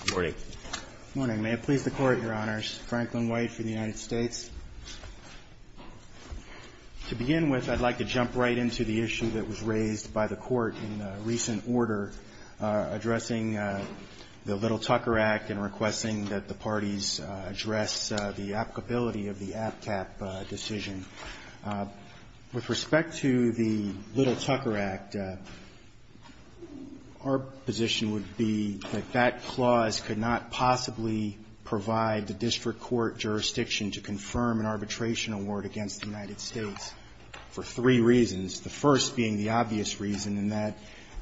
Good morning. Good morning. May it please the Court, Your Honors. Franklin White for the United States. To begin with, I'd like to jump right into the issue that was raised by the Court in recent order addressing the Little Tucker Act and requesting that the parties address the applicability of the APCAP decision. With respect to the Little Tucker Act, our position would be that that clause could not possibly provide the district court jurisdiction to confirm an arbitration award against the United States for three reasons, the first being the obvious reason, and that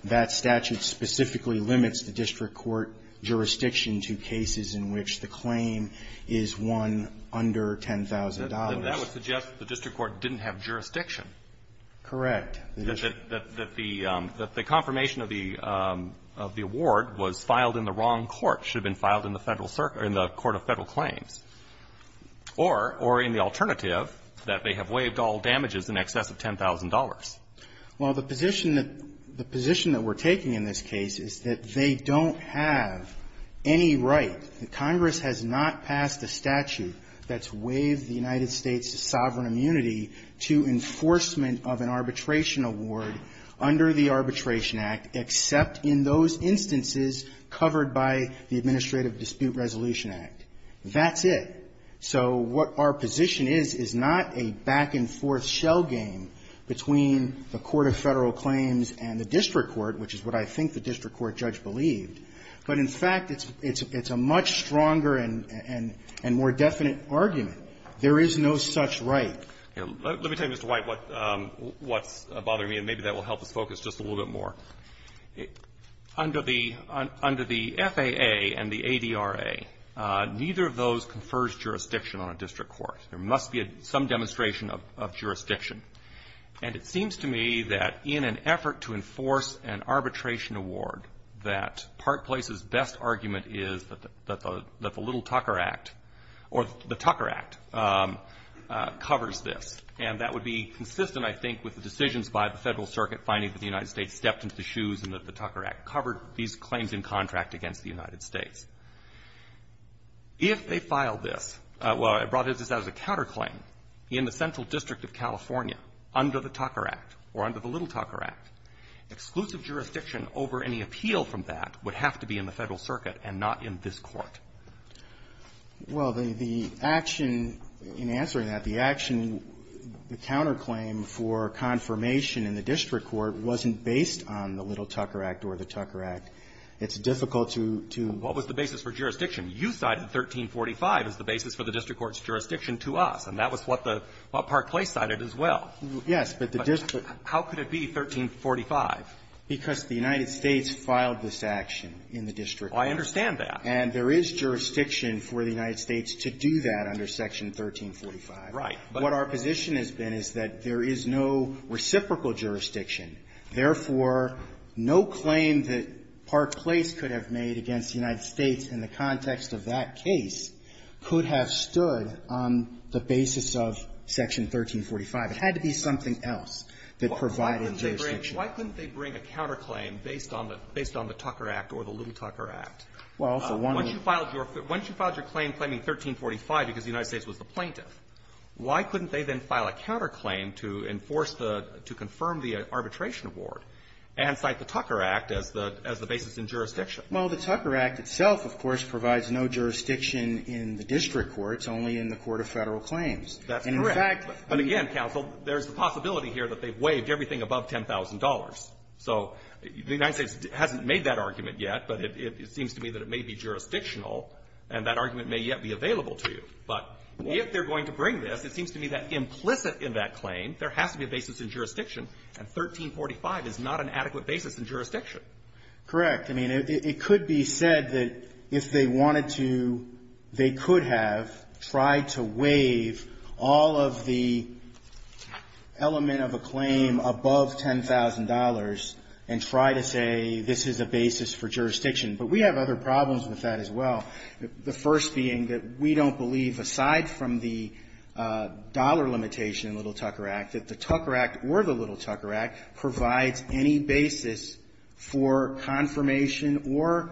that statute specifically limits the district court jurisdiction to cases in which the claim is one under $10,000. And that would suggest the district court didn't have jurisdiction. Correct. That the confirmation of the award was filed in the wrong court, should have been filed in the Federal Circuit or in the Court of Federal Claims, or in the alternative that they have waived all damages in excess of $10,000. Well, the position that we're taking in this case is that they don't have any right. Congress has not passed a statute that's waived the United States' sovereign immunity to enforcement of an arbitration award under the Arbitration Act, except in those instances covered by the Administrative Dispute Resolution Act. That's it. So what our position is, is not a back-and-forth shell game between the Court of Federal Claims and the district court, which is what I think the district court judge believed. But, in fact, it's a much stronger and more definite argument. There is no such right. Let me tell you, Mr. White, what's bothering me, and maybe that will help us focus just a little bit more. Under the FAA and the ADRA, neither of those confers jurisdiction on a district court. There must be some demonstration of jurisdiction. And it seems to me that in an effort to enforce an arbitration award, that part place's best argument is that the Little Tucker Act, or the Tucker Act, covers this. And that would be consistent, I think, with the decisions by the Federal Circuit finding that the United States stepped into the shoes and that the Tucker Act covered these claims in contract against the United States. If they filed this as a counterclaim in the Central District of California under the Tucker Act or under the Little Tucker Act, exclusive jurisdiction over any appeal from that would have to be in the Federal Circuit and not in this Court. Well, the action in answering that, the action, the counterclaim for confirmation in the district court wasn't based on the Little Tucker Act or the Tucker Act. It's difficult to — to — What was the basis for jurisdiction? You cited 1345 as the basis for the district court's jurisdiction to us, and that was what the — what part place cited as well. Yes, but the district — How could it be 1345? Because the United States filed this action in the district court. I understand that. And there is jurisdiction for the United States to do that under Section 1345. Right. But our position has been is that there is no reciprocal jurisdiction. Therefore, no claim that part place could have made against the United States in the context of that case could have stood on the basis of Section 1345. It had to be something else that provided jurisdiction. Why couldn't they bring a counterclaim based on the — based on the Tucker Act or the Little Tucker Act? Well, for one — Once you filed your — once you filed your claim claiming 1345 because the United States was the plaintiff, why couldn't they then file a counterclaim to enforce the — to confirm the arbitration award and cite the Tucker Act as the basis in jurisdiction? Well, the Tucker Act itself, of course, provides no jurisdiction in the district courts, only in the court of Federal claims. That's correct. And, in fact — But again, counsel, there's the possibility here that they've waived everything above $10,000. So the United States hasn't made that argument yet, but it seems to me that it may be jurisdictional, and that argument may yet be available to you. But if they're going to bring this, it seems to me that implicit in that claim, there has to be a basis in jurisdiction, and 1345 is not an adequate basis in jurisdiction. Correct. I mean, it could be said that if they wanted to, they could have tried to waive all of the element of a claim above $10,000 and try to say this is a basis for jurisdiction. But we have other problems with that as well, the first being that we don't believe, aside from the dollar limitation in the Little Tucker Act, that the Tucker Act or the Little Tucker Act provides any basis for confirmation or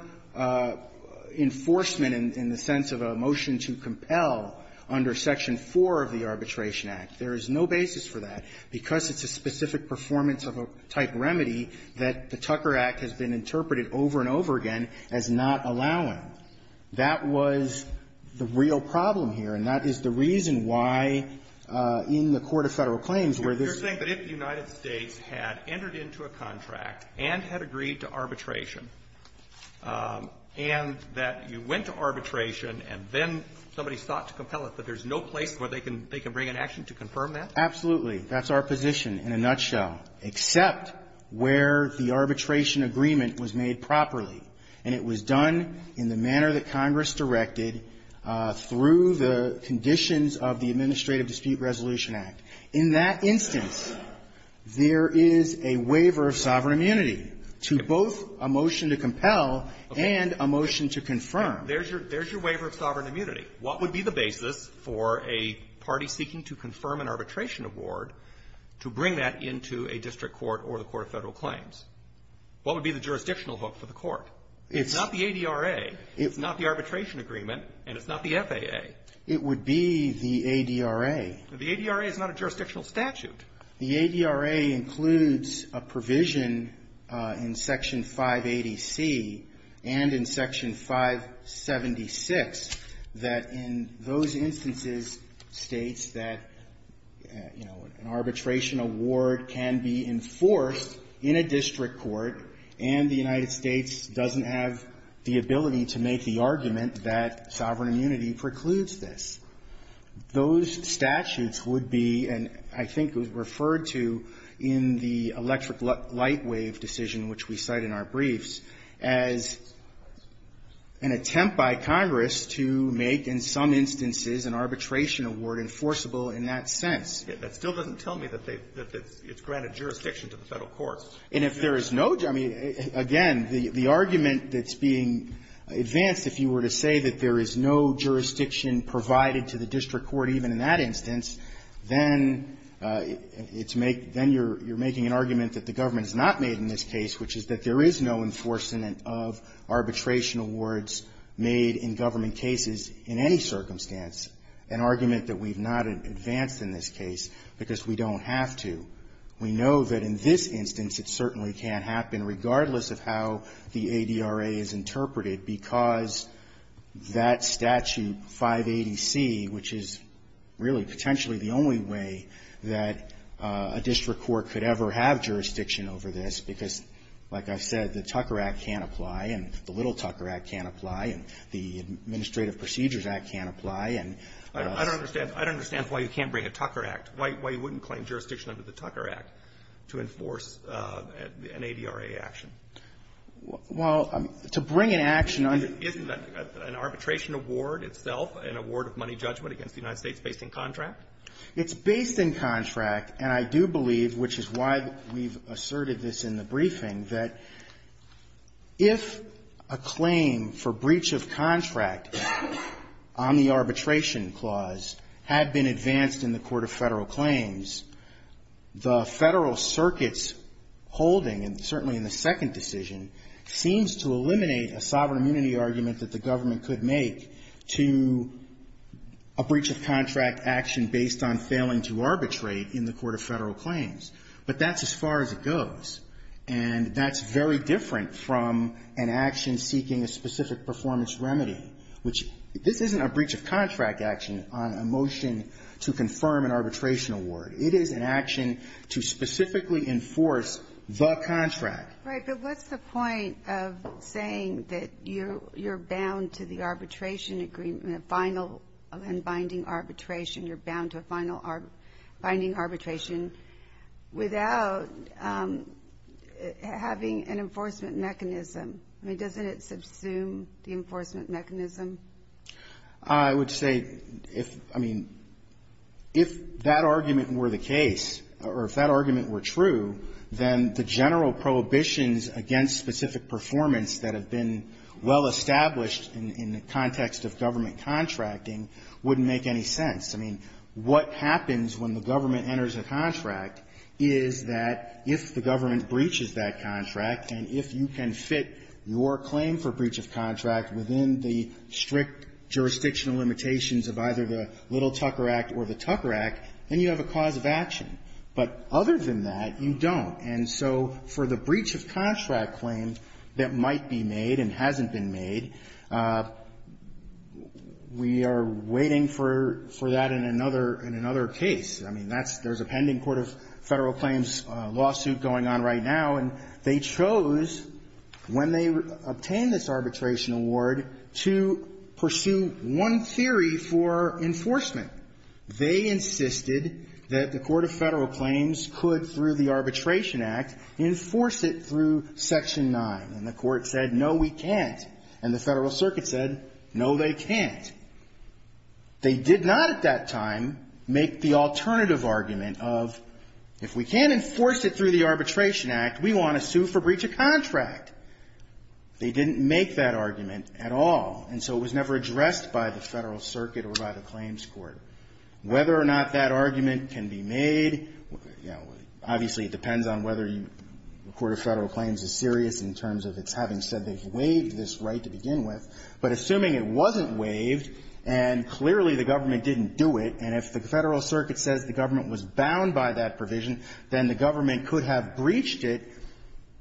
enforcement in the sense of a motion to compel under Section 4 of the Arbitration Act. There is no basis for that because it's a specific performance-type remedy that the Tucker Act has been interpreted over and over again as not allowing. That was the real problem here, and that is the reason why in the court of Federal claims where this was used. You're saying that if the United States had entered into a contract and had agreed to arbitration, and that you went to arbitration and then somebody sought to compel it, that there's no place where they can bring an action to confirm that? Absolutely. That's our position in a nutshell, except where the arbitration agreement was made properly, and it was done in the manner that Congress directed through the conditions of the Administrative Dispute Resolution Act. In that instance, there is a waiver of sovereign immunity to both a motion to compel and a motion to confirm. There's your waiver of sovereign immunity. What would be the basis for a party seeking to confirm an arbitration award to bring that into a district court or the court of Federal claims? What would be the jurisdictional hook for the court? It's not the ADRA. It's not the arbitration agreement, and it's not the FAA. It would be the ADRA. The ADRA is not a jurisdictional statute. The ADRA includes a provision in Section 580C and in Section 576 that in those instances states that, you know, an arbitration award can be enforced in a district court and the United States doesn't have the ability to make the argument that sovereign immunity precludes this. Those statutes would be, and I think it was referred to in the electric light wave decision, which we cite in our briefs, as an attempt by Congress to make, in some instances, an arbitration award enforceable in that sense. It still doesn't tell me that it's granted jurisdiction to the Federal courts. And if there is no – I mean, again, the argument that's being advanced, if you were to say that there is no jurisdiction provided to the district court even in that instance, then it's make – then you're making an argument that the government has not made in this case, which is that there is no enforcement of arbitration awards made in government cases in any circumstance, an argument that we've not advanced in this case because we don't have to. We know that in this instance, it certainly can't happen, regardless of how the ADRA is interpreted, because that statute 580C, which is really potentially the only way that a district court could ever have jurisdiction over this, because, like I've said, the Tucker Act can't apply, and the Little Tucker Act can't apply, and the Administrative Procedures Act can't apply, and the other stuff. I don't understand why you can't bring a Tucker Act, why you wouldn't claim jurisdiction under the Tucker Act to enforce an ADRA action. Well, to bring an action under the – Isn't an arbitration award itself, an award of money judgment against the United States, based in contract? It's based in contract, and I do believe, which is why we've asserted this in the briefing, that if a claim for breach of contract on the arbitration clause has been advanced in the court of federal claims, the federal circuit's holding, and certainly in the second decision, seems to eliminate a sovereign immunity argument that the government could make to a breach of contract action based on failing to arbitrate in the court of federal claims. But that's as far as it goes, and that's very different from an action seeking a to confirm an arbitration award. It is an action to specifically enforce the contract. Right, but what's the point of saying that you're bound to the arbitration agreement, a final and binding arbitration, you're bound to a final binding arbitration, without having an enforcement mechanism? I mean, doesn't it subsume the enforcement mechanism? I would say, if, I mean, if that argument were the case, or if that argument were true, then the general prohibitions against specific performance that have been well established in the context of government contracting wouldn't make any sense. I mean, what happens when the government enters a contract is that if the government breaches that contract, and if you can fit your claim for breach of strict jurisdictional limitations of either the Little-Tucker Act or the Tucker Act, then you have a cause of action. But other than that, you don't. And so for the breach of contract claims that might be made and hasn't been made, we are waiting for that in another case. I mean, that's there's a pending court of federal claims lawsuit going on right now, and they chose, when they obtained this arbitration award, to pursue one theory for enforcement. They insisted that the court of federal claims could, through the Arbitration Act, enforce it through Section 9, and the court said, no, we can't. And the Federal Circuit said, no, they can't. They did not at that time make the alternative argument of, if we can't enforce it through the Arbitration Act, we want to sue for breach of contract. They didn't make that argument at all, and so it was never addressed by the Federal Circuit or by the claims court. Whether or not that argument can be made, you know, obviously it depends on whether the court of federal claims is serious in terms of its having said they've waived this right to begin with. But assuming it wasn't waived, and clearly the government didn't do it, and if the Federal Circuit says the government was bound by that provision, then the government would have breached it.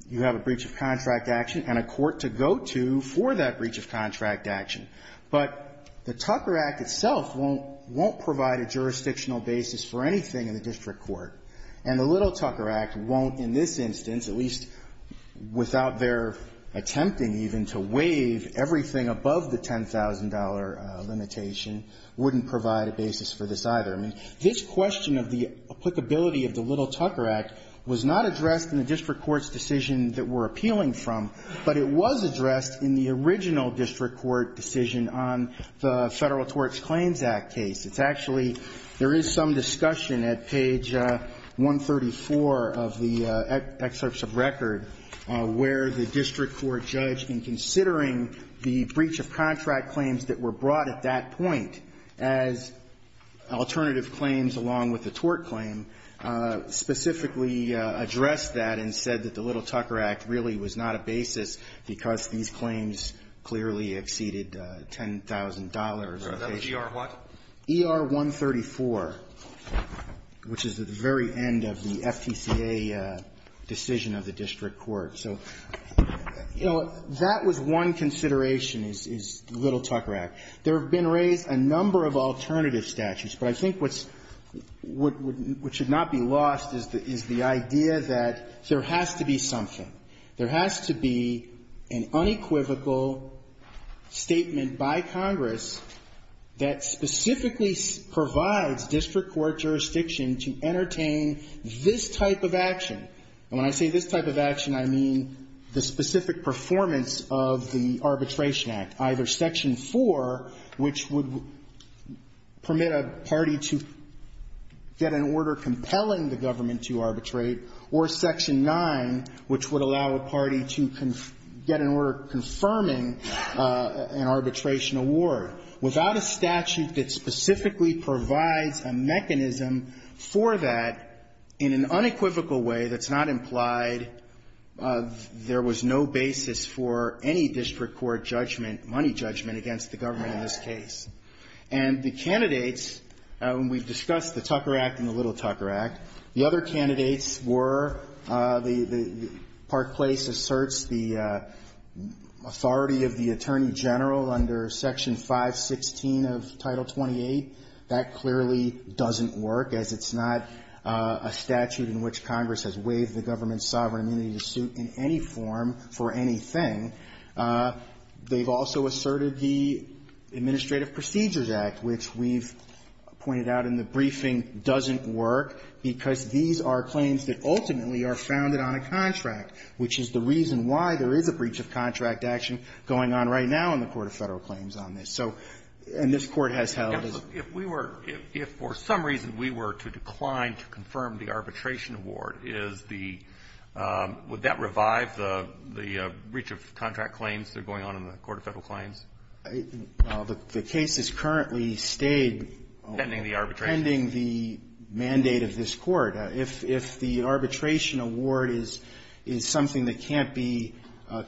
You have a breach of contract action and a court to go to for that breach of contract action. But the Tucker Act itself won't provide a jurisdictional basis for anything in the district court, and the Little Tucker Act won't in this instance, at least without their attempting even to waive everything above the $10,000 limitation, wouldn't provide a basis for this either. I mean, this question of the applicability of the Little Tucker Act was not addressed in the district court's decision that we're appealing from, but it was addressed in the original district court decision on the Federal Tort Claims Act case. It's actually, there is some discussion at page 134 of the excerpts of record where the district court judge, in considering the breach of contract claims that were brought at that point as alternative claims along with the tort claim, specifically addressed that and said that the Little Tucker Act really was not a basis because these claims clearly exceeded $10,000. E.R. what? E.R. 134, which is at the very end of the FTCA decision of the district court. So, you know, that was one consideration, is the Little Tucker Act. There have been raised a number of alternative statutes, but I think what's, what should not be lost is the idea that there has to be something. There has to be an unequivocal statement by Congress that specifically provides district court jurisdiction to entertain this type of action. And when I say this type of action, I mean the specific performance of the Arbitration Act. Either Section 4, which would permit a party to get an order compelling the government to arbitrate, or Section 9, which would allow a party to get an order confirming an arbitration award. Without a statute that specifically provides a mechanism for that, in an unequivocal way that's not implied, there was no basis for any district court judgment, money judgment, against the government in this case. And the candidates, we've discussed the Tucker Act and the Little Tucker Act. The other candidates were the Park Place asserts the authority of the Attorney General under Section 516 of Title 28. That clearly doesn't work, as it's not a statute in which Congress has waived the government's sovereign immunity to suit in any form for anything. They've also asserted the Administrative Procedures Act, which we've pointed out in the briefing doesn't work, because these are claims that ultimately are founded on a contract, which is the reason why there is a breach of contract action going on right now in the Court of Federal Claims on this. So, and this Court has held. If we were, if for some reason we were to decline to confirm the arbitration award, is the, would that revive the breach of contract claims that are going on in the Court of Federal Claims? The case has currently stayed pending the mandate of this Court. If the arbitration award is something that can't be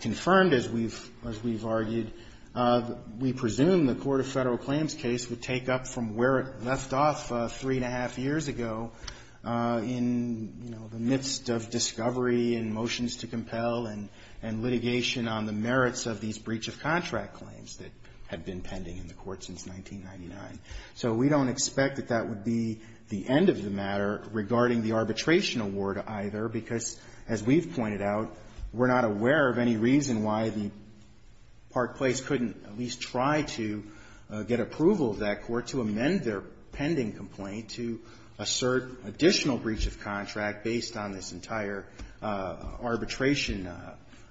confirmed, as we've argued, we presume the Court of Federal Claims case would take up from where it left off three and a half years ago in, you know, the midst of discovery and motions to compel and litigation on the merits of these breach of contract claims that have been pending in the Court since 1999. So we don't expect that that would be the end of the matter regarding the arbitration award either, because as we've pointed out, we're not aware of any reason why the Park Place couldn't at least try to get approval of that court to amend their pending complaint to assert additional breach of contract based on this entire arbitration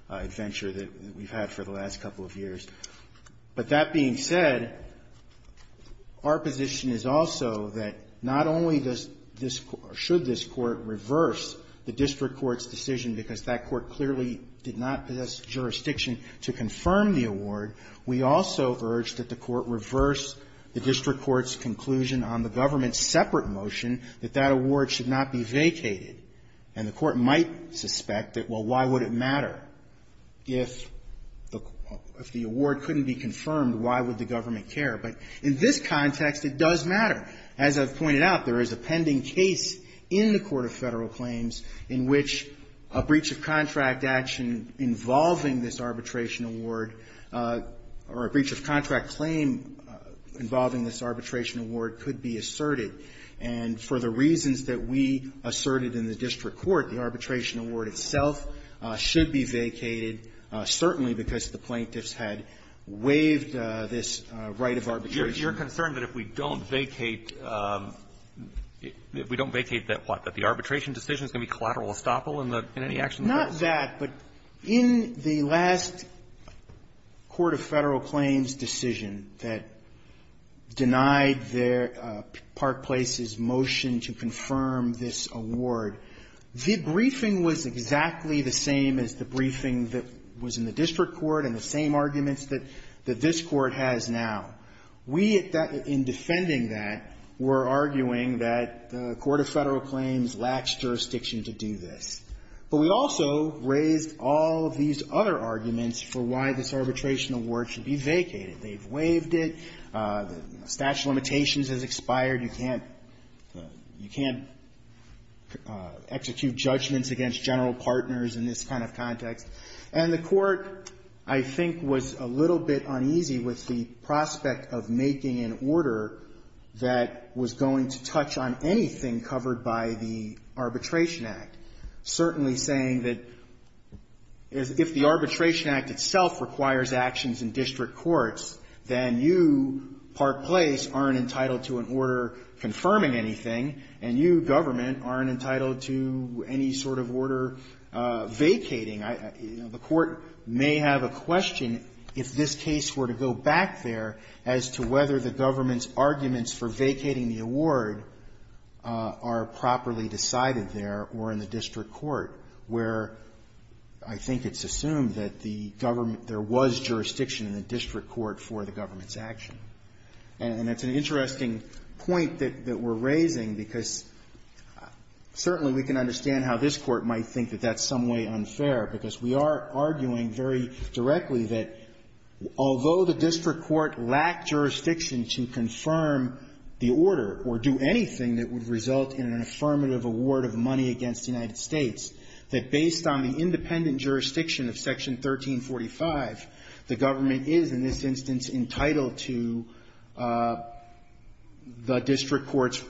adventure that we've had for the last couple of years. But that being said, our position is also that not only does this Court, or should this Court, reverse the district court's decision because that court clearly did not possess jurisdiction to confirm the award, we also urge that the court reverse the district court's conclusion on the government's separate motion that that award should not be vacated. And the court might suspect that, well, why would it matter if the award couldn't be confirmed? Why would the government care? But in this context, it does matter. As I've pointed out, there is a pending case in the Court of Federal Claims in which a breach of contract action involving this arbitration award or a breach of contract claim involving this arbitration award could be asserted. And for the reasons that we asserted in the district court, the arbitration award itself should be vacated, certainly because the plaintiffs had waived this right of arbitration. You're concerned that if we don't vacate, we don't vacate that what? That the arbitration decision is going to be collateral estoppel in the any action? Not that, but in the last Court of Federal Claims decision that denied their Park Place's motion to confirm this award, the briefing was exactly the same as the briefing that was in the district court and the same arguments that this Court has now. We, in defending that, were arguing that the Court of Federal Claims lacks jurisdiction to do this. But we also raised all of these other arguments for why this arbitration award should be vacated. They've waived it. The statute of limitations has expired. You can't execute judgments against general partners in this kind of context. And the Court, I think, was a little bit uneasy with the prospect of making an order that was going to touch on anything covered by the Arbitration Act, certainly saying that if the Arbitration Act itself requires actions in district courts, then you, Park Place, aren't entitled to an order confirming anything, and you, government, aren't entitled to any sort of order vacating. The Court may have a question, if this case were to go back there, as to whether the government's arguments for vacating the award are properly decided there or in the district court, where I think it's assumed that the government – there was jurisdiction in the district court for the government's action. And it's an interesting point that we're raising, because certainly we can understand how this Court might think that that's some way unfair, because we are arguing very directly that although the district court lacked jurisdiction to confirm the order or do anything that would result in an affirmative award of money against the United States, that based on the independent jurisdiction of Section 1345, the government is, in this instance, entitled to the district court's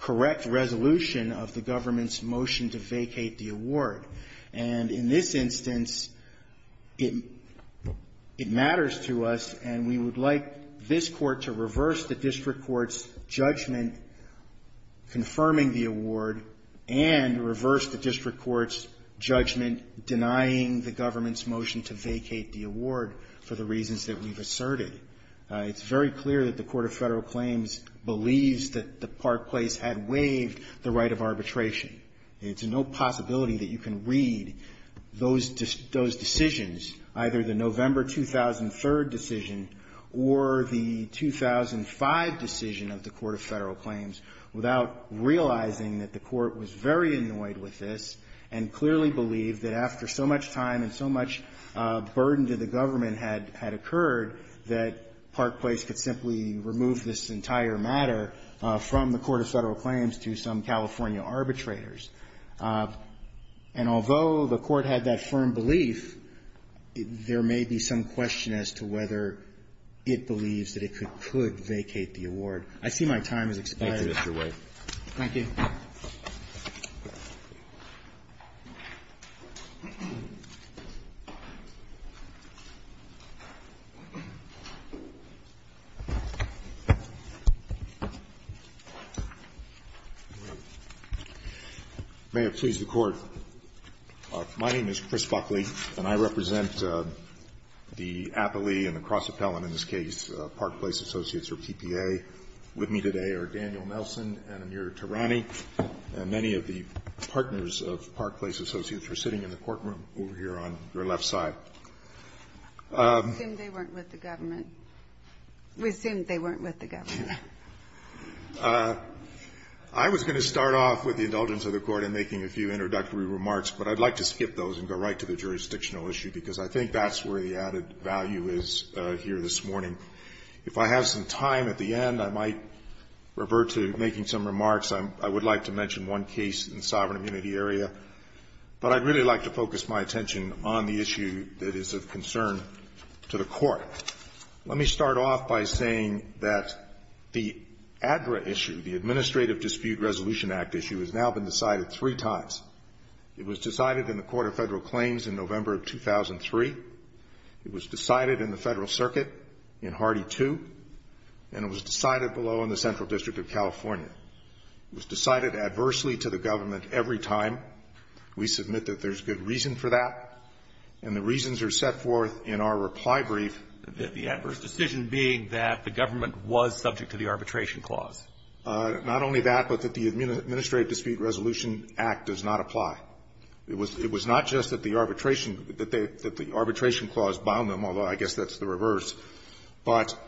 correct resolution of the government's motion to vacate the award. And in this instance, it matters to us, and we would like this Court to reverse the district court's judgment confirming the award and reverse the district court's judgment denying the government's motion to vacate the award for the reasons that we've asserted. It's very clear that the Court of Federal Claims believes that the Park Place had waived the right of arbitration. It's no possibility that you can read those decisions, either the November 2003 decision or the 2005 decision of the Court of Federal Claims, without realizing that the Court was very annoyed with this and clearly believed that after so much time and so much burden to the government had occurred, that Park Place could simply remove this entire matter from the Court of Federal Claims to some California arbitrators. And although the Court had that firm belief, there may be some question as to whether it believes that it could vacate the award. I see my time has expired. Roberts. Thank you, Mr. White. Thank you. May it please the Court. My name is Chris Buckley, and I represent the appellee and the cross-appellant in this case, Park Place Associates or PPA. With me today are Daniel Nelson and Amir Tarani, and many of the partners of Park Place Associates are sitting in the courtroom over here on your left side. I assume they weren't with the government. We assume they weren't with the government. I was going to start off with the indulgence of the Court in making a few introductory remarks, but I'd like to skip those and go right to the jurisdictional issue, because I think that's where the added value is here this morning. If I have some time at the end, I might revert to making some remarks. I would like to mention one case in the sovereign immunity area, but I'd really like to focus my attention on the issue that is of concern to the Court. Let me start off by saying that the ADRA issue, the Administrative Dispute Resolution Act issue, has now been decided three times. It was decided in the Court of Federal Claims in November of 2003. It was decided in the Federal Circuit in Hardy 2. And it was decided below in the Central District of California. It was decided adversely to the government every time. We submit that there's good reason for that. And the reasons are set forth in our reply brief. The adverse decision being that the government was subject to the arbitration clause. Not only that, but that the Administrative Dispute Resolution Act does not apply. It was not just that the arbitration clause bound them, although I guess that's the reverse, but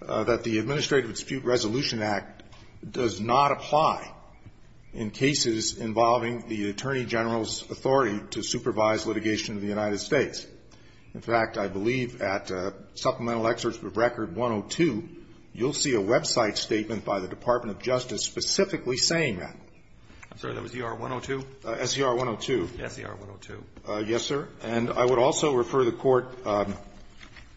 that the Administrative Dispute Resolution Act does not apply in cases involving the Attorney General's authority to supervise litigation of the United States. In fact, I believe at Supplemental Excerpt of Record 102, you'll see a website statement by the Department of Justice specifically saying that. I'm sorry. That was ER-102? SER-102. SER-102. Yes, sir. And I would also refer the Court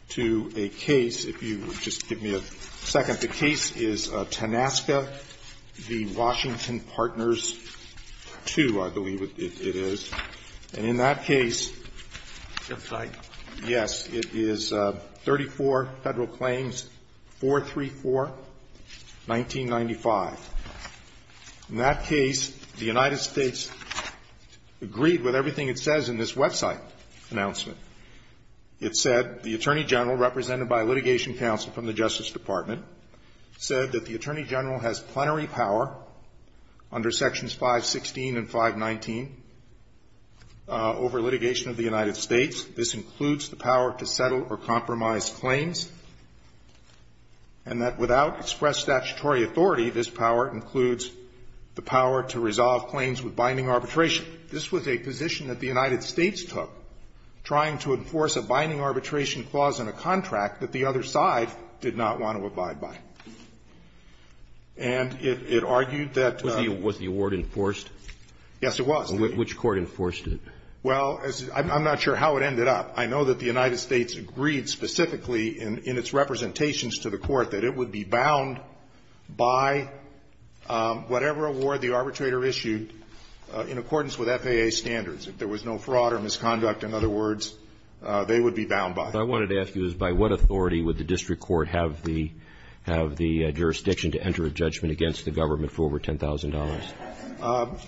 to a case, if you would just give me a second. The case is Tanaska v. Washington Partners 2, I believe it is. And in that case, yes, it is 34 Federal Claims 434. 1995. In that case, the United States agreed with everything it says in this website announcement. It said, The Attorney General, represented by litigation counsel from the Justice Department, said that the Attorney General has plenary power under Sections 516 and 519 over litigation of the United States. This includes the power to settle or compromise claims, and that without express statutory authority, this power includes the power to resolve claims with binding arbitration. This was a position that the United States took, trying to enforce a binding arbitration clause in a contract that the other side did not want to abide by. And it argued that the ---- Was the award enforced? Yes, it was. Which court enforced it? Well, I'm not sure how it ended up. I know that the United States agreed specifically in its representations to the court that it would be bound by whatever award the arbitrator issued in accordance with FAA standards. If there was no fraud or misconduct, in other words, they would be bound by it. What I wanted to ask you is by what authority would the district court have the jurisdiction to enter a judgment against the government for over $10,000?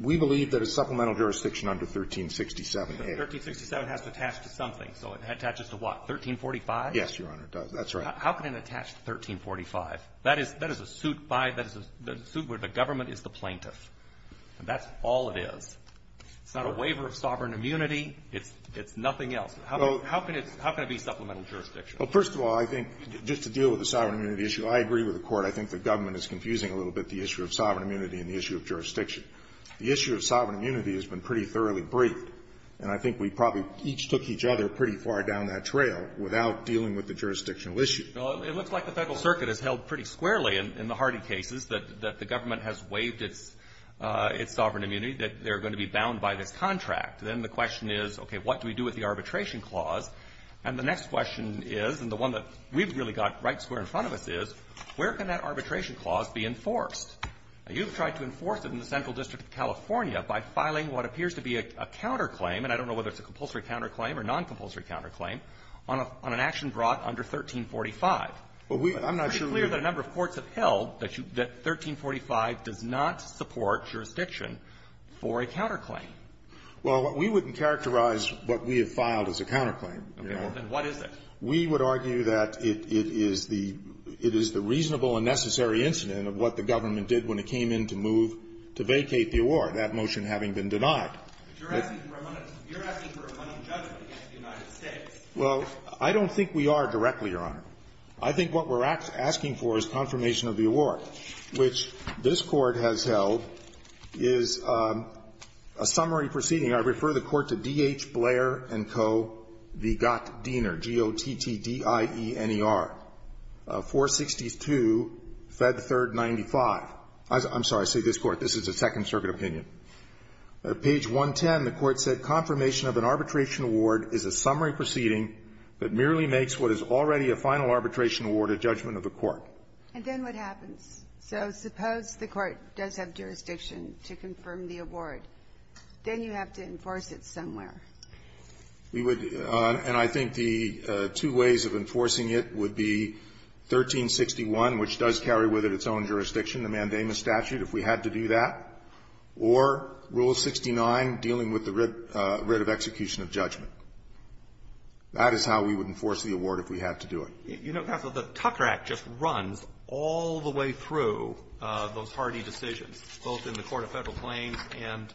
We believe that a supplemental jurisdiction under 1367A. But 1367 has to attach to something. So it attaches to what? 1345? Yes, Your Honor, it does. That's right. How can it attach to 1345? That is a suit by the government is the plaintiff. That's all it is. It's not a waiver of sovereign immunity. It's nothing else. How can it be supplemental jurisdiction? Well, first of all, I think just to deal with the sovereign immunity issue, I agree with the Court. I think the government is confusing a little bit the issue of sovereign immunity and the issue of jurisdiction. The issue of sovereign immunity has been pretty thoroughly briefed. And I think we probably each took each other pretty far down that trail without dealing with the jurisdictional issue. Well, it looks like the Federal Circuit has held pretty squarely in the Hardy cases that the government has waived its sovereign immunity, that they're going to be bound by this contract. Then the question is, okay, what do we do with the arbitration clause? And the next question is, and the one that we've really got right square in front of us is, where can that arbitration clause be enforced? You've tried to enforce it in the Central District of California by filing what appears to be a counterclaim, and I don't know whether it's a compulsory counterclaim or noncompulsory counterclaim, on an action brought under 1345. It's pretty clear that a number of courts have held that 1345 does not support jurisdiction for a counterclaim. Well, we wouldn't characterize what we have filed as a counterclaim. Okay. Well, then what is it? We would argue that it is the reasonable and necessary incident of what the government did when it came in to move to vacate the award, that motion having been denied. You're asking for a money judgment against the United States. Well, I don't think we are directly, Your Honor. I think what we're asking for is confirmation of the award, which this Court has held is a summary proceeding. I refer the Court to D.H. Blair & Co. v. Gottdiener, G-O-T-T-D-I-E-N-E-R, 462 Fed 3rd 95. I'm sorry. I say this Court. This is a Second Circuit opinion. Page 110, the Court said, Confirmation of an arbitration award is a summary proceeding that merely makes what is already a final arbitration award a judgment of the Court. And then what happens? So suppose the Court does have jurisdiction to confirm the award. Then you have to enforce it somewhere. We would. And I think the two ways of enforcing it would be 1361, which does carry with it its own jurisdiction, the mandamus statute, if we had to do that, or Rule 69, dealing with the writ of execution of judgment. That is how we would enforce the award if we had to do it. You know, counsel, the Tucker Act just runs all the way through those hardy decisions, both in the Court of Federal Claims and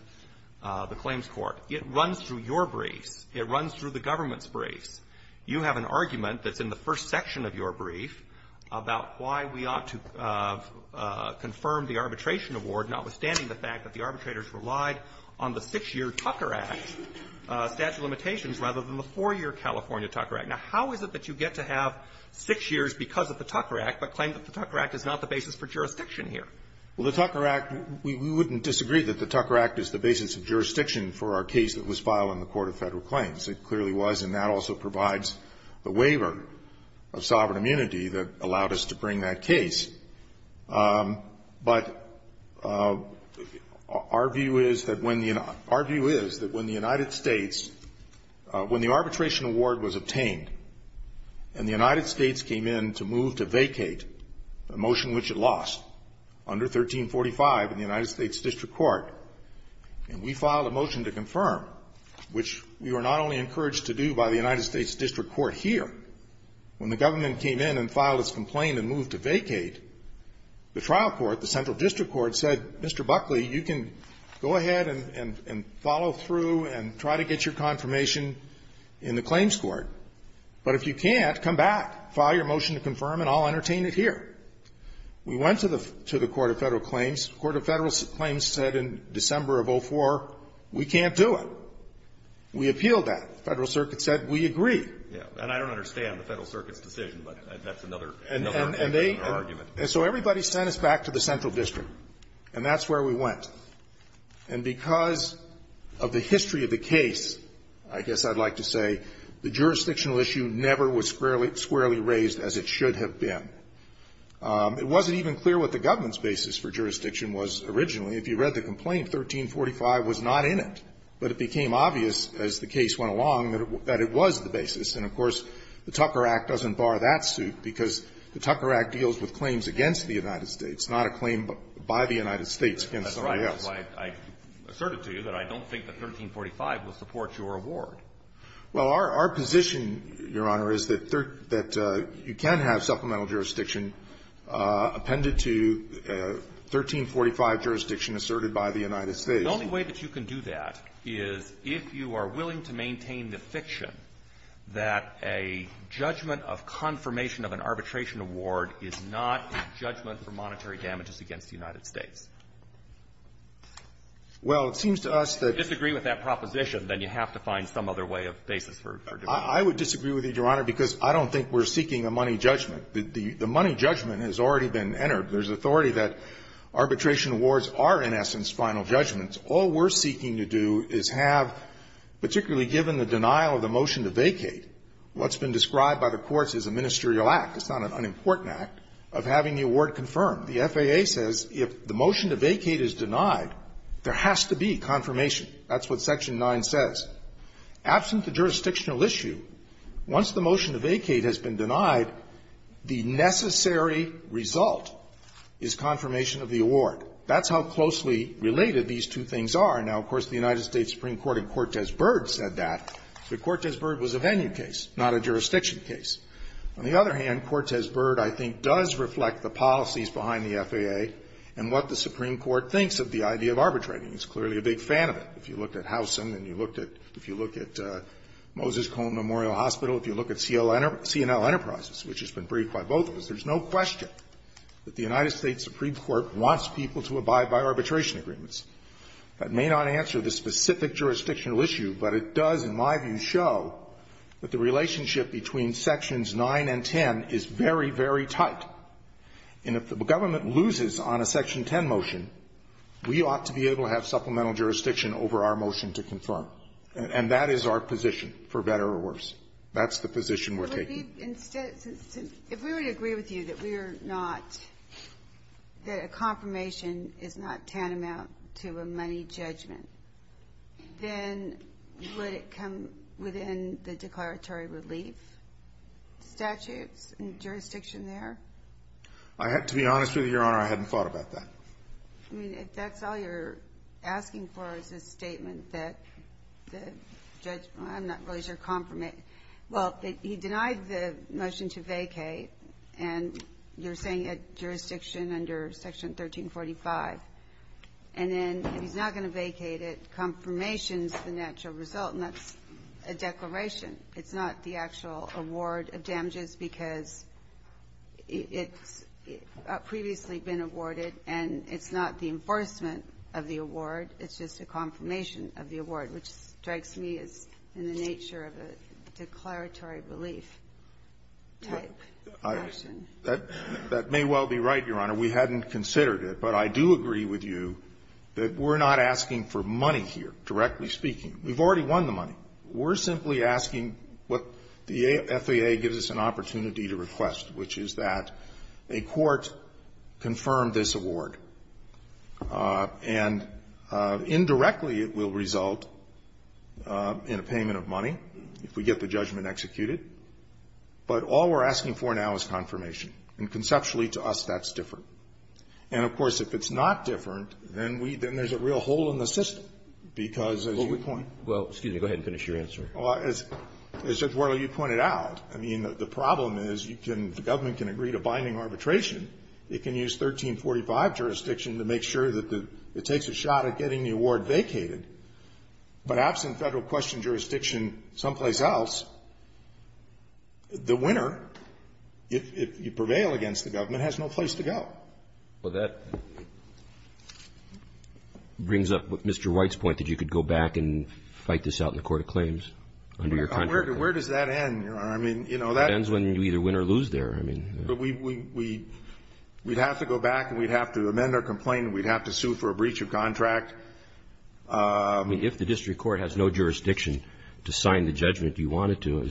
the Claims Court. It runs through your briefs. It runs through the government's briefs. You have an argument that's in the first section of your brief about why we ought to confirm the arbitration award, notwithstanding the fact that the arbitrators relied on the six-year Tucker Act statute of limitations rather than the four-year California Tucker Act. Now, how is it that you get to have six years because of the Tucker Act but claim that the Tucker Act is not the basis for jurisdiction here? Well, the Tucker Act, we wouldn't disagree that the Tucker Act is the basis of jurisdiction for our case that was filed in the Court of Federal Claims. It clearly was, and that also provides the waiver of sovereign immunity that allowed us to bring that case. But our view is that when the United States, when the arbitration award was obtained and the United States came in to move to vacate a motion which it lost under 1345 in the United States district court, and we filed a motion to confirm, which we were not only encouraged to do by the United States district court here, when the government came in and filed its complaint and moved to vacate, the trial court, the central district court, said, Mr. Buckley, you can go ahead and follow through and try to get your confirmation in the claims court, but if you can't, come back, file your motion to confirm, and I'll entertain it here. We went to the Court of Federal Claims. The Court of Federal Claims said in December of 04, we can't do it. We appealed that. The Federal Circuit said we agree. And I don't understand the Federal Circuit's decision, but that's another argument. And so everybody sent us back to the central district, and that's where we went. And because of the history of the case, I guess I'd like to say, the jurisdictional issue never was squarely raised as it should have been. It wasn't even clear what the government's basis for jurisdiction was originally. If you read the complaint, 1345 was not in it, but it became obvious as the case went along that it was the basis, and of course, the Tucker Act doesn't bar that suit because the Tucker Act deals with claims against the United States, not a claim by the United States against somebody else. That's right. That's why I asserted to you that I don't think that 1345 will support your award. Well, our position, Your Honor, is that you can have supplemental jurisdiction appended to 1345 jurisdiction asserted by the United States. The only way that you can do that is if you are willing to maintain the fiction that a judgment of confirmation of an arbitration award is not a judgment for monetary damages against the United States. Well, it seems to us that you have to find some other way of basis for jurisdiction. I would disagree with you, Your Honor, because I don't think we're seeking a money judgment. The money judgment has already been entered. There's authority that arbitration awards are, in essence, final judgments. All we're seeking to do is have, particularly given the denial of the motion to vacate, what's been described by the courts as a ministerial act. It's not an unimportant act of having the award confirmed. The FAA says if the motion to vacate is denied, there has to be confirmation. That's what Section 9 says. Absent the jurisdictional issue, once the motion to vacate has been denied, the necessary result is confirmation of the award. That's how closely related these two things are. Now, of course, the United States Supreme Court in Cortez Byrd said that. But Cortez Byrd was a venue case, not a jurisdiction case. On the other hand, Cortez Byrd, I think, does reflect the policies behind the FAA and what the Supreme Court thinks of the idea of arbitrating. It's clearly a big fan of it. If you look at Howsam and you look at Moses Cone Memorial Hospital, if you look at C&L Enterprises, which has been briefed by both of us, there's no question that the United States Supreme Court wants people to abide by arbitration agreements. That may not answer the specific jurisdictional issue, but it does, in my view, show that the relationship between Sections 9 and 10 is very, very tight. And if the government loses on a Section 10 motion, we ought to be able to have supplemental jurisdiction over our motion to confirm. And that is our position, for better or worse. That's the position we're taking. Ginsburg. If we were to agree with you that we are not – that a confirmation is not tantamount to a money judgment, then would it come within the declaratory relief statutes and jurisdiction there? To be honest with you, Your Honor, I hadn't thought about that. I mean, if that's all you're asking for is a statement that the judge – I'm not really sure – confirm it – well, he denied the motion to vacate, and you're saying it's jurisdiction under Section 1345. And then if he's not going to vacate it, confirmation is the natural result, and that's a declaration. It's not the actual award of damages because it's previously been awarded, and it's not the enforcement of the award. It's just a confirmation of the award, which strikes me as in the nature of a declaratory relief type motion. That may well be right, Your Honor. We hadn't considered it. But I do agree with you that we're not asking for money here, directly speaking. We've already won the money. We're simply asking what the FAA gives us an opportunity to request, which is that a court confirmed this award. And indirectly, it will result in a payment of money if we get the judgment executed. But all we're asking for now is confirmation. And conceptually, to us, that's different. And, of course, if it's not different, then we – then there's a real hole in the system because, as you point – Well, excuse me. Go ahead and finish your answer. Well, as Judge Worley, you pointed out, I mean, the problem is you can – the government can agree to binding arbitration. It can use 1345 jurisdiction to make sure that the – it takes a shot at getting the award vacated. But absent federal question jurisdiction someplace else, the winner, if you prevail against the government, has no place to go. Well, that brings up Mr. White's point that you could go back and fight this out in the court of claims under your contract. Where does that end? I mean, you know, that – That ends when you either win or lose there. I mean – But we – we'd have to go back and we'd have to amend our complaint and we'd have to sue for a breach of contract. If the district court has no jurisdiction to sign the judgment you wanted to,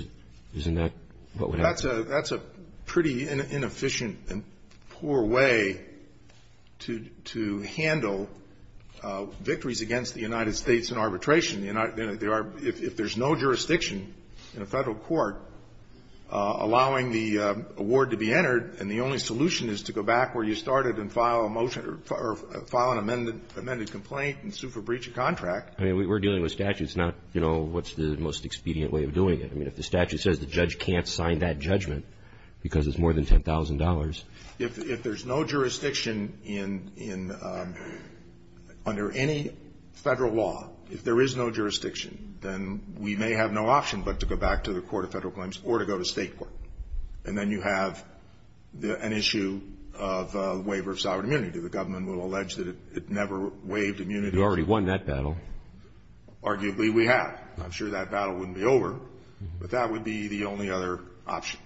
isn't that what would happen? That's a – that's a pretty inefficient and poor way to – to handle victories against the United States in arbitration. If there's no jurisdiction in a federal court allowing the award to be entered and the only solution is to go back where you started and file a motion – or file an amended complaint and sue for breach of contract. I mean, we're dealing with statutes, not, you know, what's the most expedient way of doing it. I mean, if the statute says the judge can't sign that judgment because it's more than $10,000. If there's no jurisdiction in – in – under any federal law, if there is no jurisdiction, then we may have no option but to go back to the court of federal claims or to go to state court. And then you have the – an issue of waiver of sovereign immunity. The government will allege that it never waived immunity. You already won that battle. Arguably, we have. I'm sure that battle wouldn't be over, but that would be the only other option.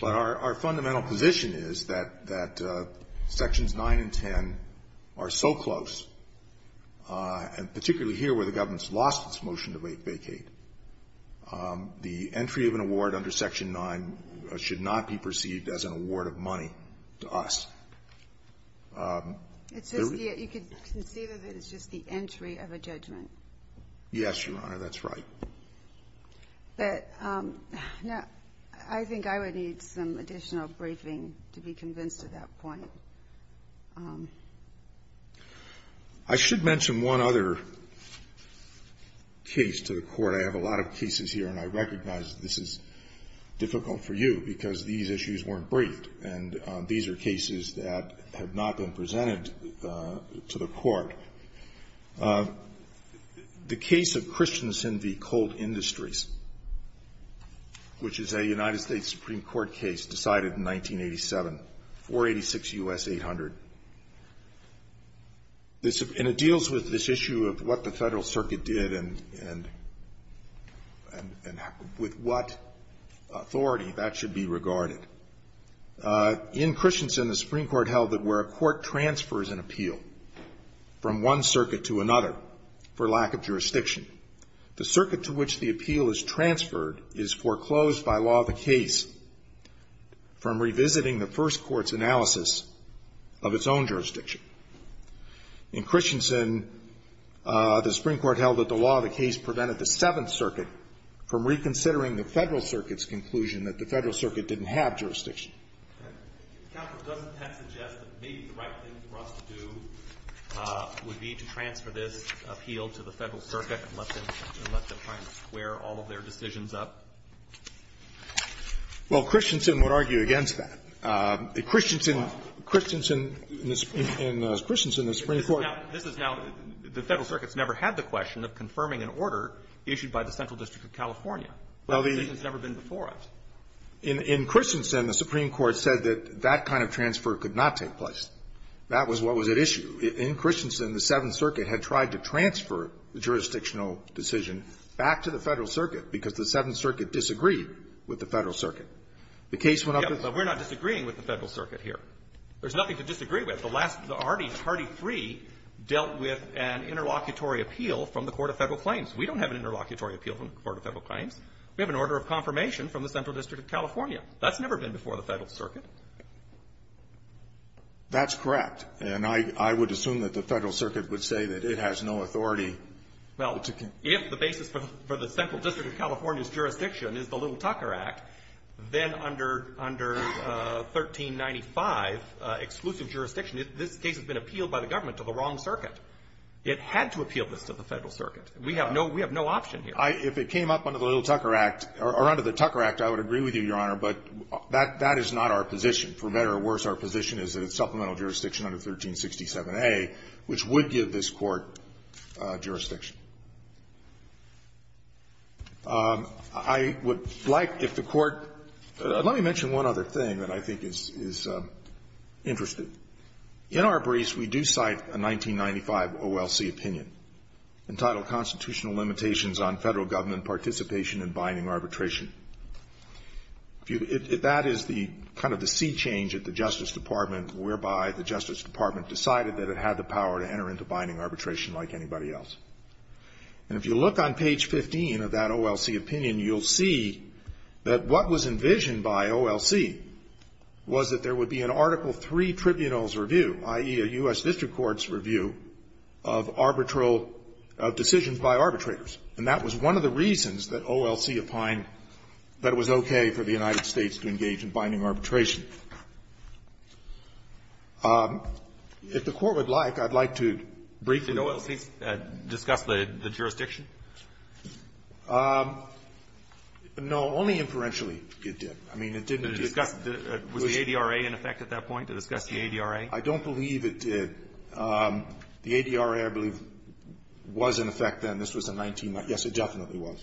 But our – our fundamental position is that – that Sections 9 and 10 are so close, and particularly here where the government's lost its motion to vacate, the entry of an award under Section 9 should not be perceived as an award of money to us. It's just the – you could conceive of it as just the entry of a judgment. Yes, Your Honor. That's right. But now, I think I would need some additional briefing to be convinced of that point. I should mention one other case to the Court. I have a lot of cases here, and I recognize this is difficult for you because these issues weren't briefed, and these are cases that have not been presented to the Court. The case of Christianson v. Colt Industries, which is a United States Supreme Court case decided in 1987, 486 U.S. 800. This – and it deals with this issue of what the Federal Circuit did and – and – and with what authority that should be regarded. In Christianson, the Supreme Court held that where a court transfers an appeal from one circuit to another for lack of jurisdiction, the circuit to which the appeal is transferred is foreclosed by law of the case from revisiting the first court's analysis of its own jurisdiction. In Christianson, the Supreme Court held that the law of the case prevented the Seventh Circuit from reconsidering the Federal Circuit's conclusion that the Federal Circuit didn't have jurisdiction. If counsel doesn't suggest that maybe the right thing for us to do would be to transfer this appeal to the Federal Circuit and let them – and let them try and square all of their decisions up? Well, Christianson would argue against that. Christianson – Christianson – in Christianson, the Supreme Court – This is now – the Federal Circuit's never had the question of confirming an order issued by the Central District of California. Well, the – That decision's never been before us. In – in Christianson, the Supreme Court said that that kind of transfer could not take place. That was what was at issue. In Christianson, the Seventh Circuit had tried to transfer the jurisdictional decision back to the Federal Circuit because the Seventh Circuit disagreed with the Federal Circuit. The case went up as – Yeah, but we're not disagreeing with the Federal Circuit here. There's nothing to disagree with. The last – the Hardy – Hardy 3 dealt with an interlocutory appeal from the Court of Federal Claims. We don't have an interlocutory appeal from the Court of Federal Claims. We have an order of confirmation from the Central District of California. That's never been before the Federal Circuit. That's correct. And I – I would assume that the Federal Circuit would say that it has no authority to con – Well, if the basis for the – for the Central District of California's jurisdiction is the Little Tucker Act, then under – under 1395, exclusive jurisdiction, this case has been appealed by the government to the wrong circuit. It had to appeal this to the Federal Circuit. We have no – we have no option here. If it came up under the Little Tucker Act – or under the Tucker Act, I would agree with you, Your Honor, but that – that is not our position. For better or worse, our position is that it's supplemental jurisdiction under 1367A, which would give this Court jurisdiction. I would like, if the Court – let me mention one other thing that I think is – is interesting. In our briefs, we do cite a 1995 OLC opinion entitled, Constitutional Limitations on Federal Government Participation in Binding Arbitration. If you – that is the – kind of the sea change at the Justice Department, whereby the Justice Department decided that it had the power to enter into binding arbitration like anybody else. And if you look on page 15 of that OLC opinion, you'll see that what was envisioned by OLC was that there would be an Article III Tribunal's review, i.e., a U.S. District Court's review of arbitral – of decisions by arbitrators. And that was one of the reasons that OLC opined that it was okay for the United States to engage in binding arbitration. If the Court would like, I'd like to briefly – Did OLC discuss the jurisdiction? No. Only inferentially it did. I mean, it didn't discuss – Was the ADRA in effect at that point, to discuss the ADRA? I don't believe it did. The ADRA, I believe, was in effect then. This was in 19 – yes, it definitely was.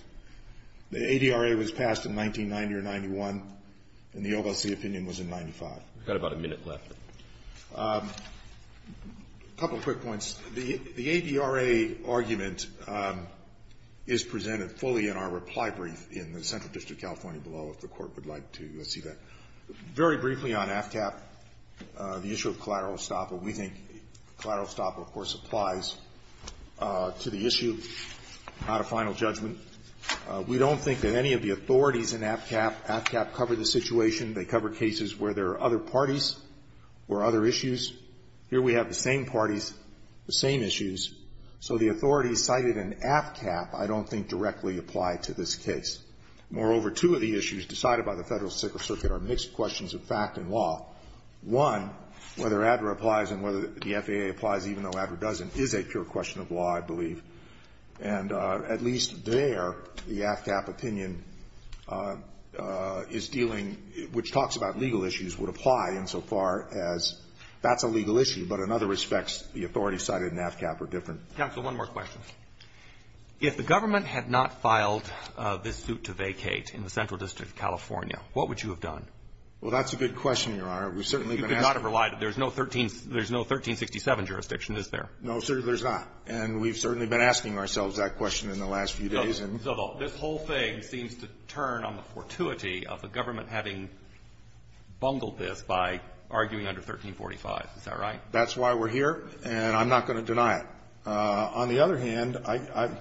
The ADRA was passed in 1990 or 91, and the OLC opinion was in 95. We've got about a minute left. A couple of quick points. The ADRA argument is presented fully in our reply brief in the Central District of California below, if the Court would like to see that. Very briefly on AFCAP, the issue of collateral estoppel, we think collateral estoppel, of course, applies to the issue out of final judgment. We don't think that any of the authorities in AFCAP – AFCAP covered the situation. They cover cases where there are other parties or other issues. Here we have the same parties, the same issues. So the authorities cited in AFCAP I don't think directly apply to this case. Moreover, two of the issues decided by the Federal Circuit are mixed questions of fact and law. One, whether ADRA applies and whether the FAA applies, even though ADRA doesn't, is a pure question of law, I believe. And at least there, the AFCAP opinion is dealing – which talks about legal issues would apply insofar as that's a legal issue, but in other respects, the authorities cited in AFCAP are different. Counsel, one more question. If the government had not filed this suit to vacate in the Central District of California, what would you have done? Well, that's a good question, Your Honor. We've certainly been asking. You could not have relied. There's no 13 – there's no 1367 jurisdiction, is there? No, sir, there's not. And we've certainly been asking ourselves that question in the last few days. No, but this whole thing seems to turn on the fortuity of the government having bungled this by arguing under 1345. Is that right? That's why we're here, and I'm not going to deny it. On the other hand, I –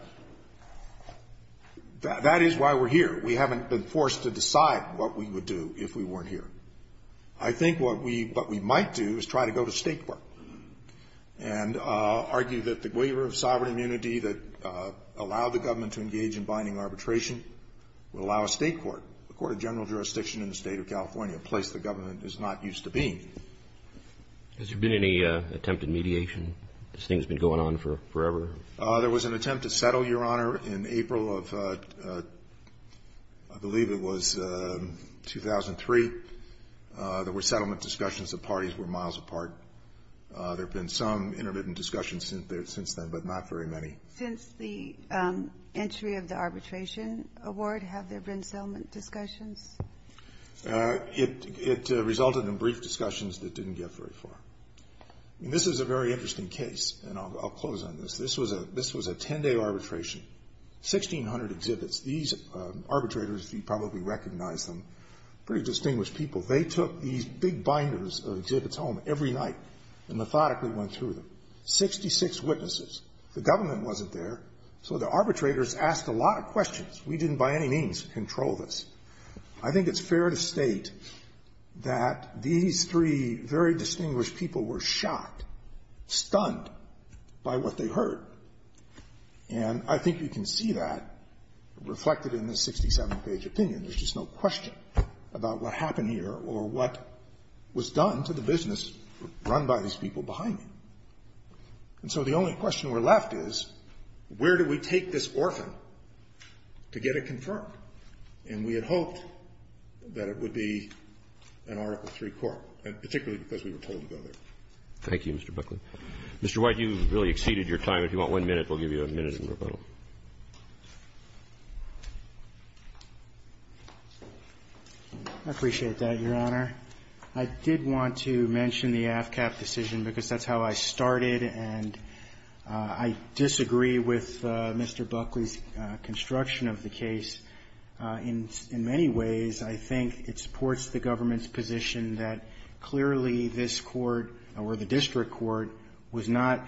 that is why we're here. We haven't been forced to decide what we would do if we weren't here. I think what we might do is try to go to state court and argue that the waiver of sovereign immunity that allowed the government to engage in binding arbitration would allow a state court, a court of general jurisdiction in the State of California, a place the government is not used to being. Has there been any attempt at mediation? Has this thing been going on forever? There was an attempt to settle, Your Honor, in April of – I believe it was 2003. There were settlement discussions. The parties were miles apart. There have been some intermittent discussions since then, but not very many. Since the entry of the arbitration award, have there been settlement discussions? It resulted in brief discussions that didn't get very far. This is a very interesting case, and I'll close on this. This was a 10-day arbitration, 1,600 exhibits. These arbitrators, you probably recognize them, pretty distinguished people. They took these big binders of exhibits home every night and methodically went through them. Sixty-six witnesses. The government wasn't there, so the arbitrators asked a lot of questions. We didn't, by any means, control this. I think it's fair to state that these three very distinguished people were shocked, stunned by what they heard. And I think you can see that reflected in this 67-page opinion. There's just no question about what happened here or what was done to the business run by these people behind me. And so the only question we're left is, where do we take this orphan to get it confirmed? And we had hoped that it would be an Article III court, particularly because we were told to go there. Thank you, Mr. Buckley. Mr. White, you've really exceeded your time. If you want one minute, we'll give you a minute in rebuttal. I appreciate that, Your Honor. I did want to mention the AFCAP decision because that's how I started, and I disagree with Mr. Buckley's construction of the case. In many ways, I think it supports the government's position that clearly this court or the district court was not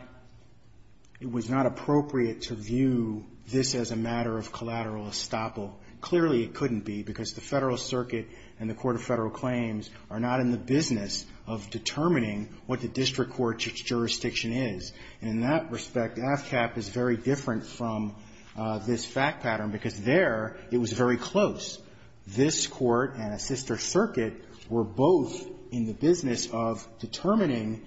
appropriate to view this as a matter of collateral estoppel. Clearly it couldn't be because the Federal Circuit and the Court of Federal Claims are not in the business of determining what the district court's jurisdiction is. And in that respect, AFCAP is very different from this fact pattern because there it was very close. This court and a sister circuit were both in the business of determining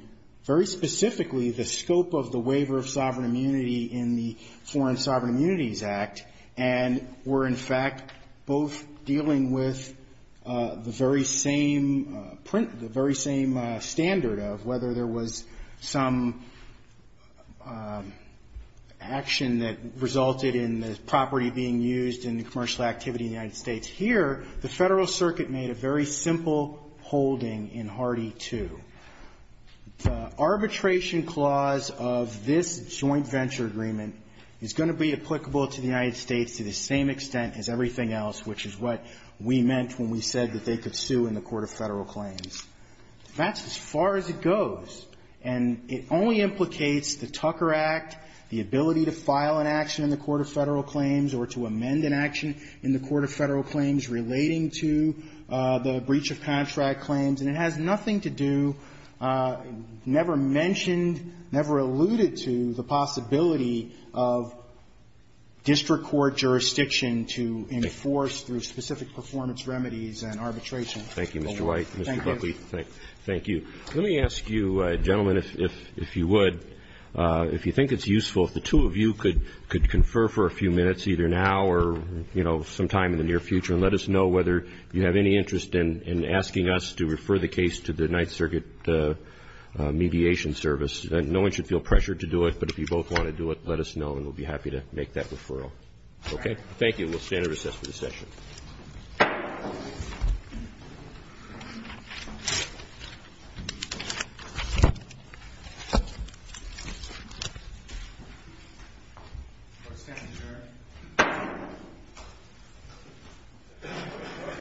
very specifically the scope of the waiver of sovereign immunity in the Foreign Sovereign Immunities Act and were in fact both dealing with the very same standard of whether there was some action that resulted in the property being used in the commercial activity in the United States. Here, the Federal Circuit made a very simple holding in Hardy 2. The arbitration clause of this joint venture agreement is going to be applicable to the United States to the same extent as everything else, which is what we meant when we said that they could sue in the Court of Federal Claims. That's as far as it goes. And it only implicates the Tucker Act, the ability to file an action in the Court of Federal Claims or to amend an action in the Court of Federal Claims relating to the breach of contract claims. And it has nothing to do, never mentioned, never alluded to the possibility of district court jurisdiction to enforce through specific performance remedies and arbitration. Thank you, Mr. White. Thank you. Mr. Buckley, thank you. Let me ask you, gentlemen, if you would, if you think it's useful, if the two of you could confer for a few minutes, either now or, you know, sometime in the near future, and let us know whether you have any interest in asking us to refer the case to the Ninth Circuit Mediation Service. No one should feel pressured to do it, but if you both want to do it, let us know and we'll be happy to make that referral. Okay? Thank you. We'll stand and recess for this session. Thank you.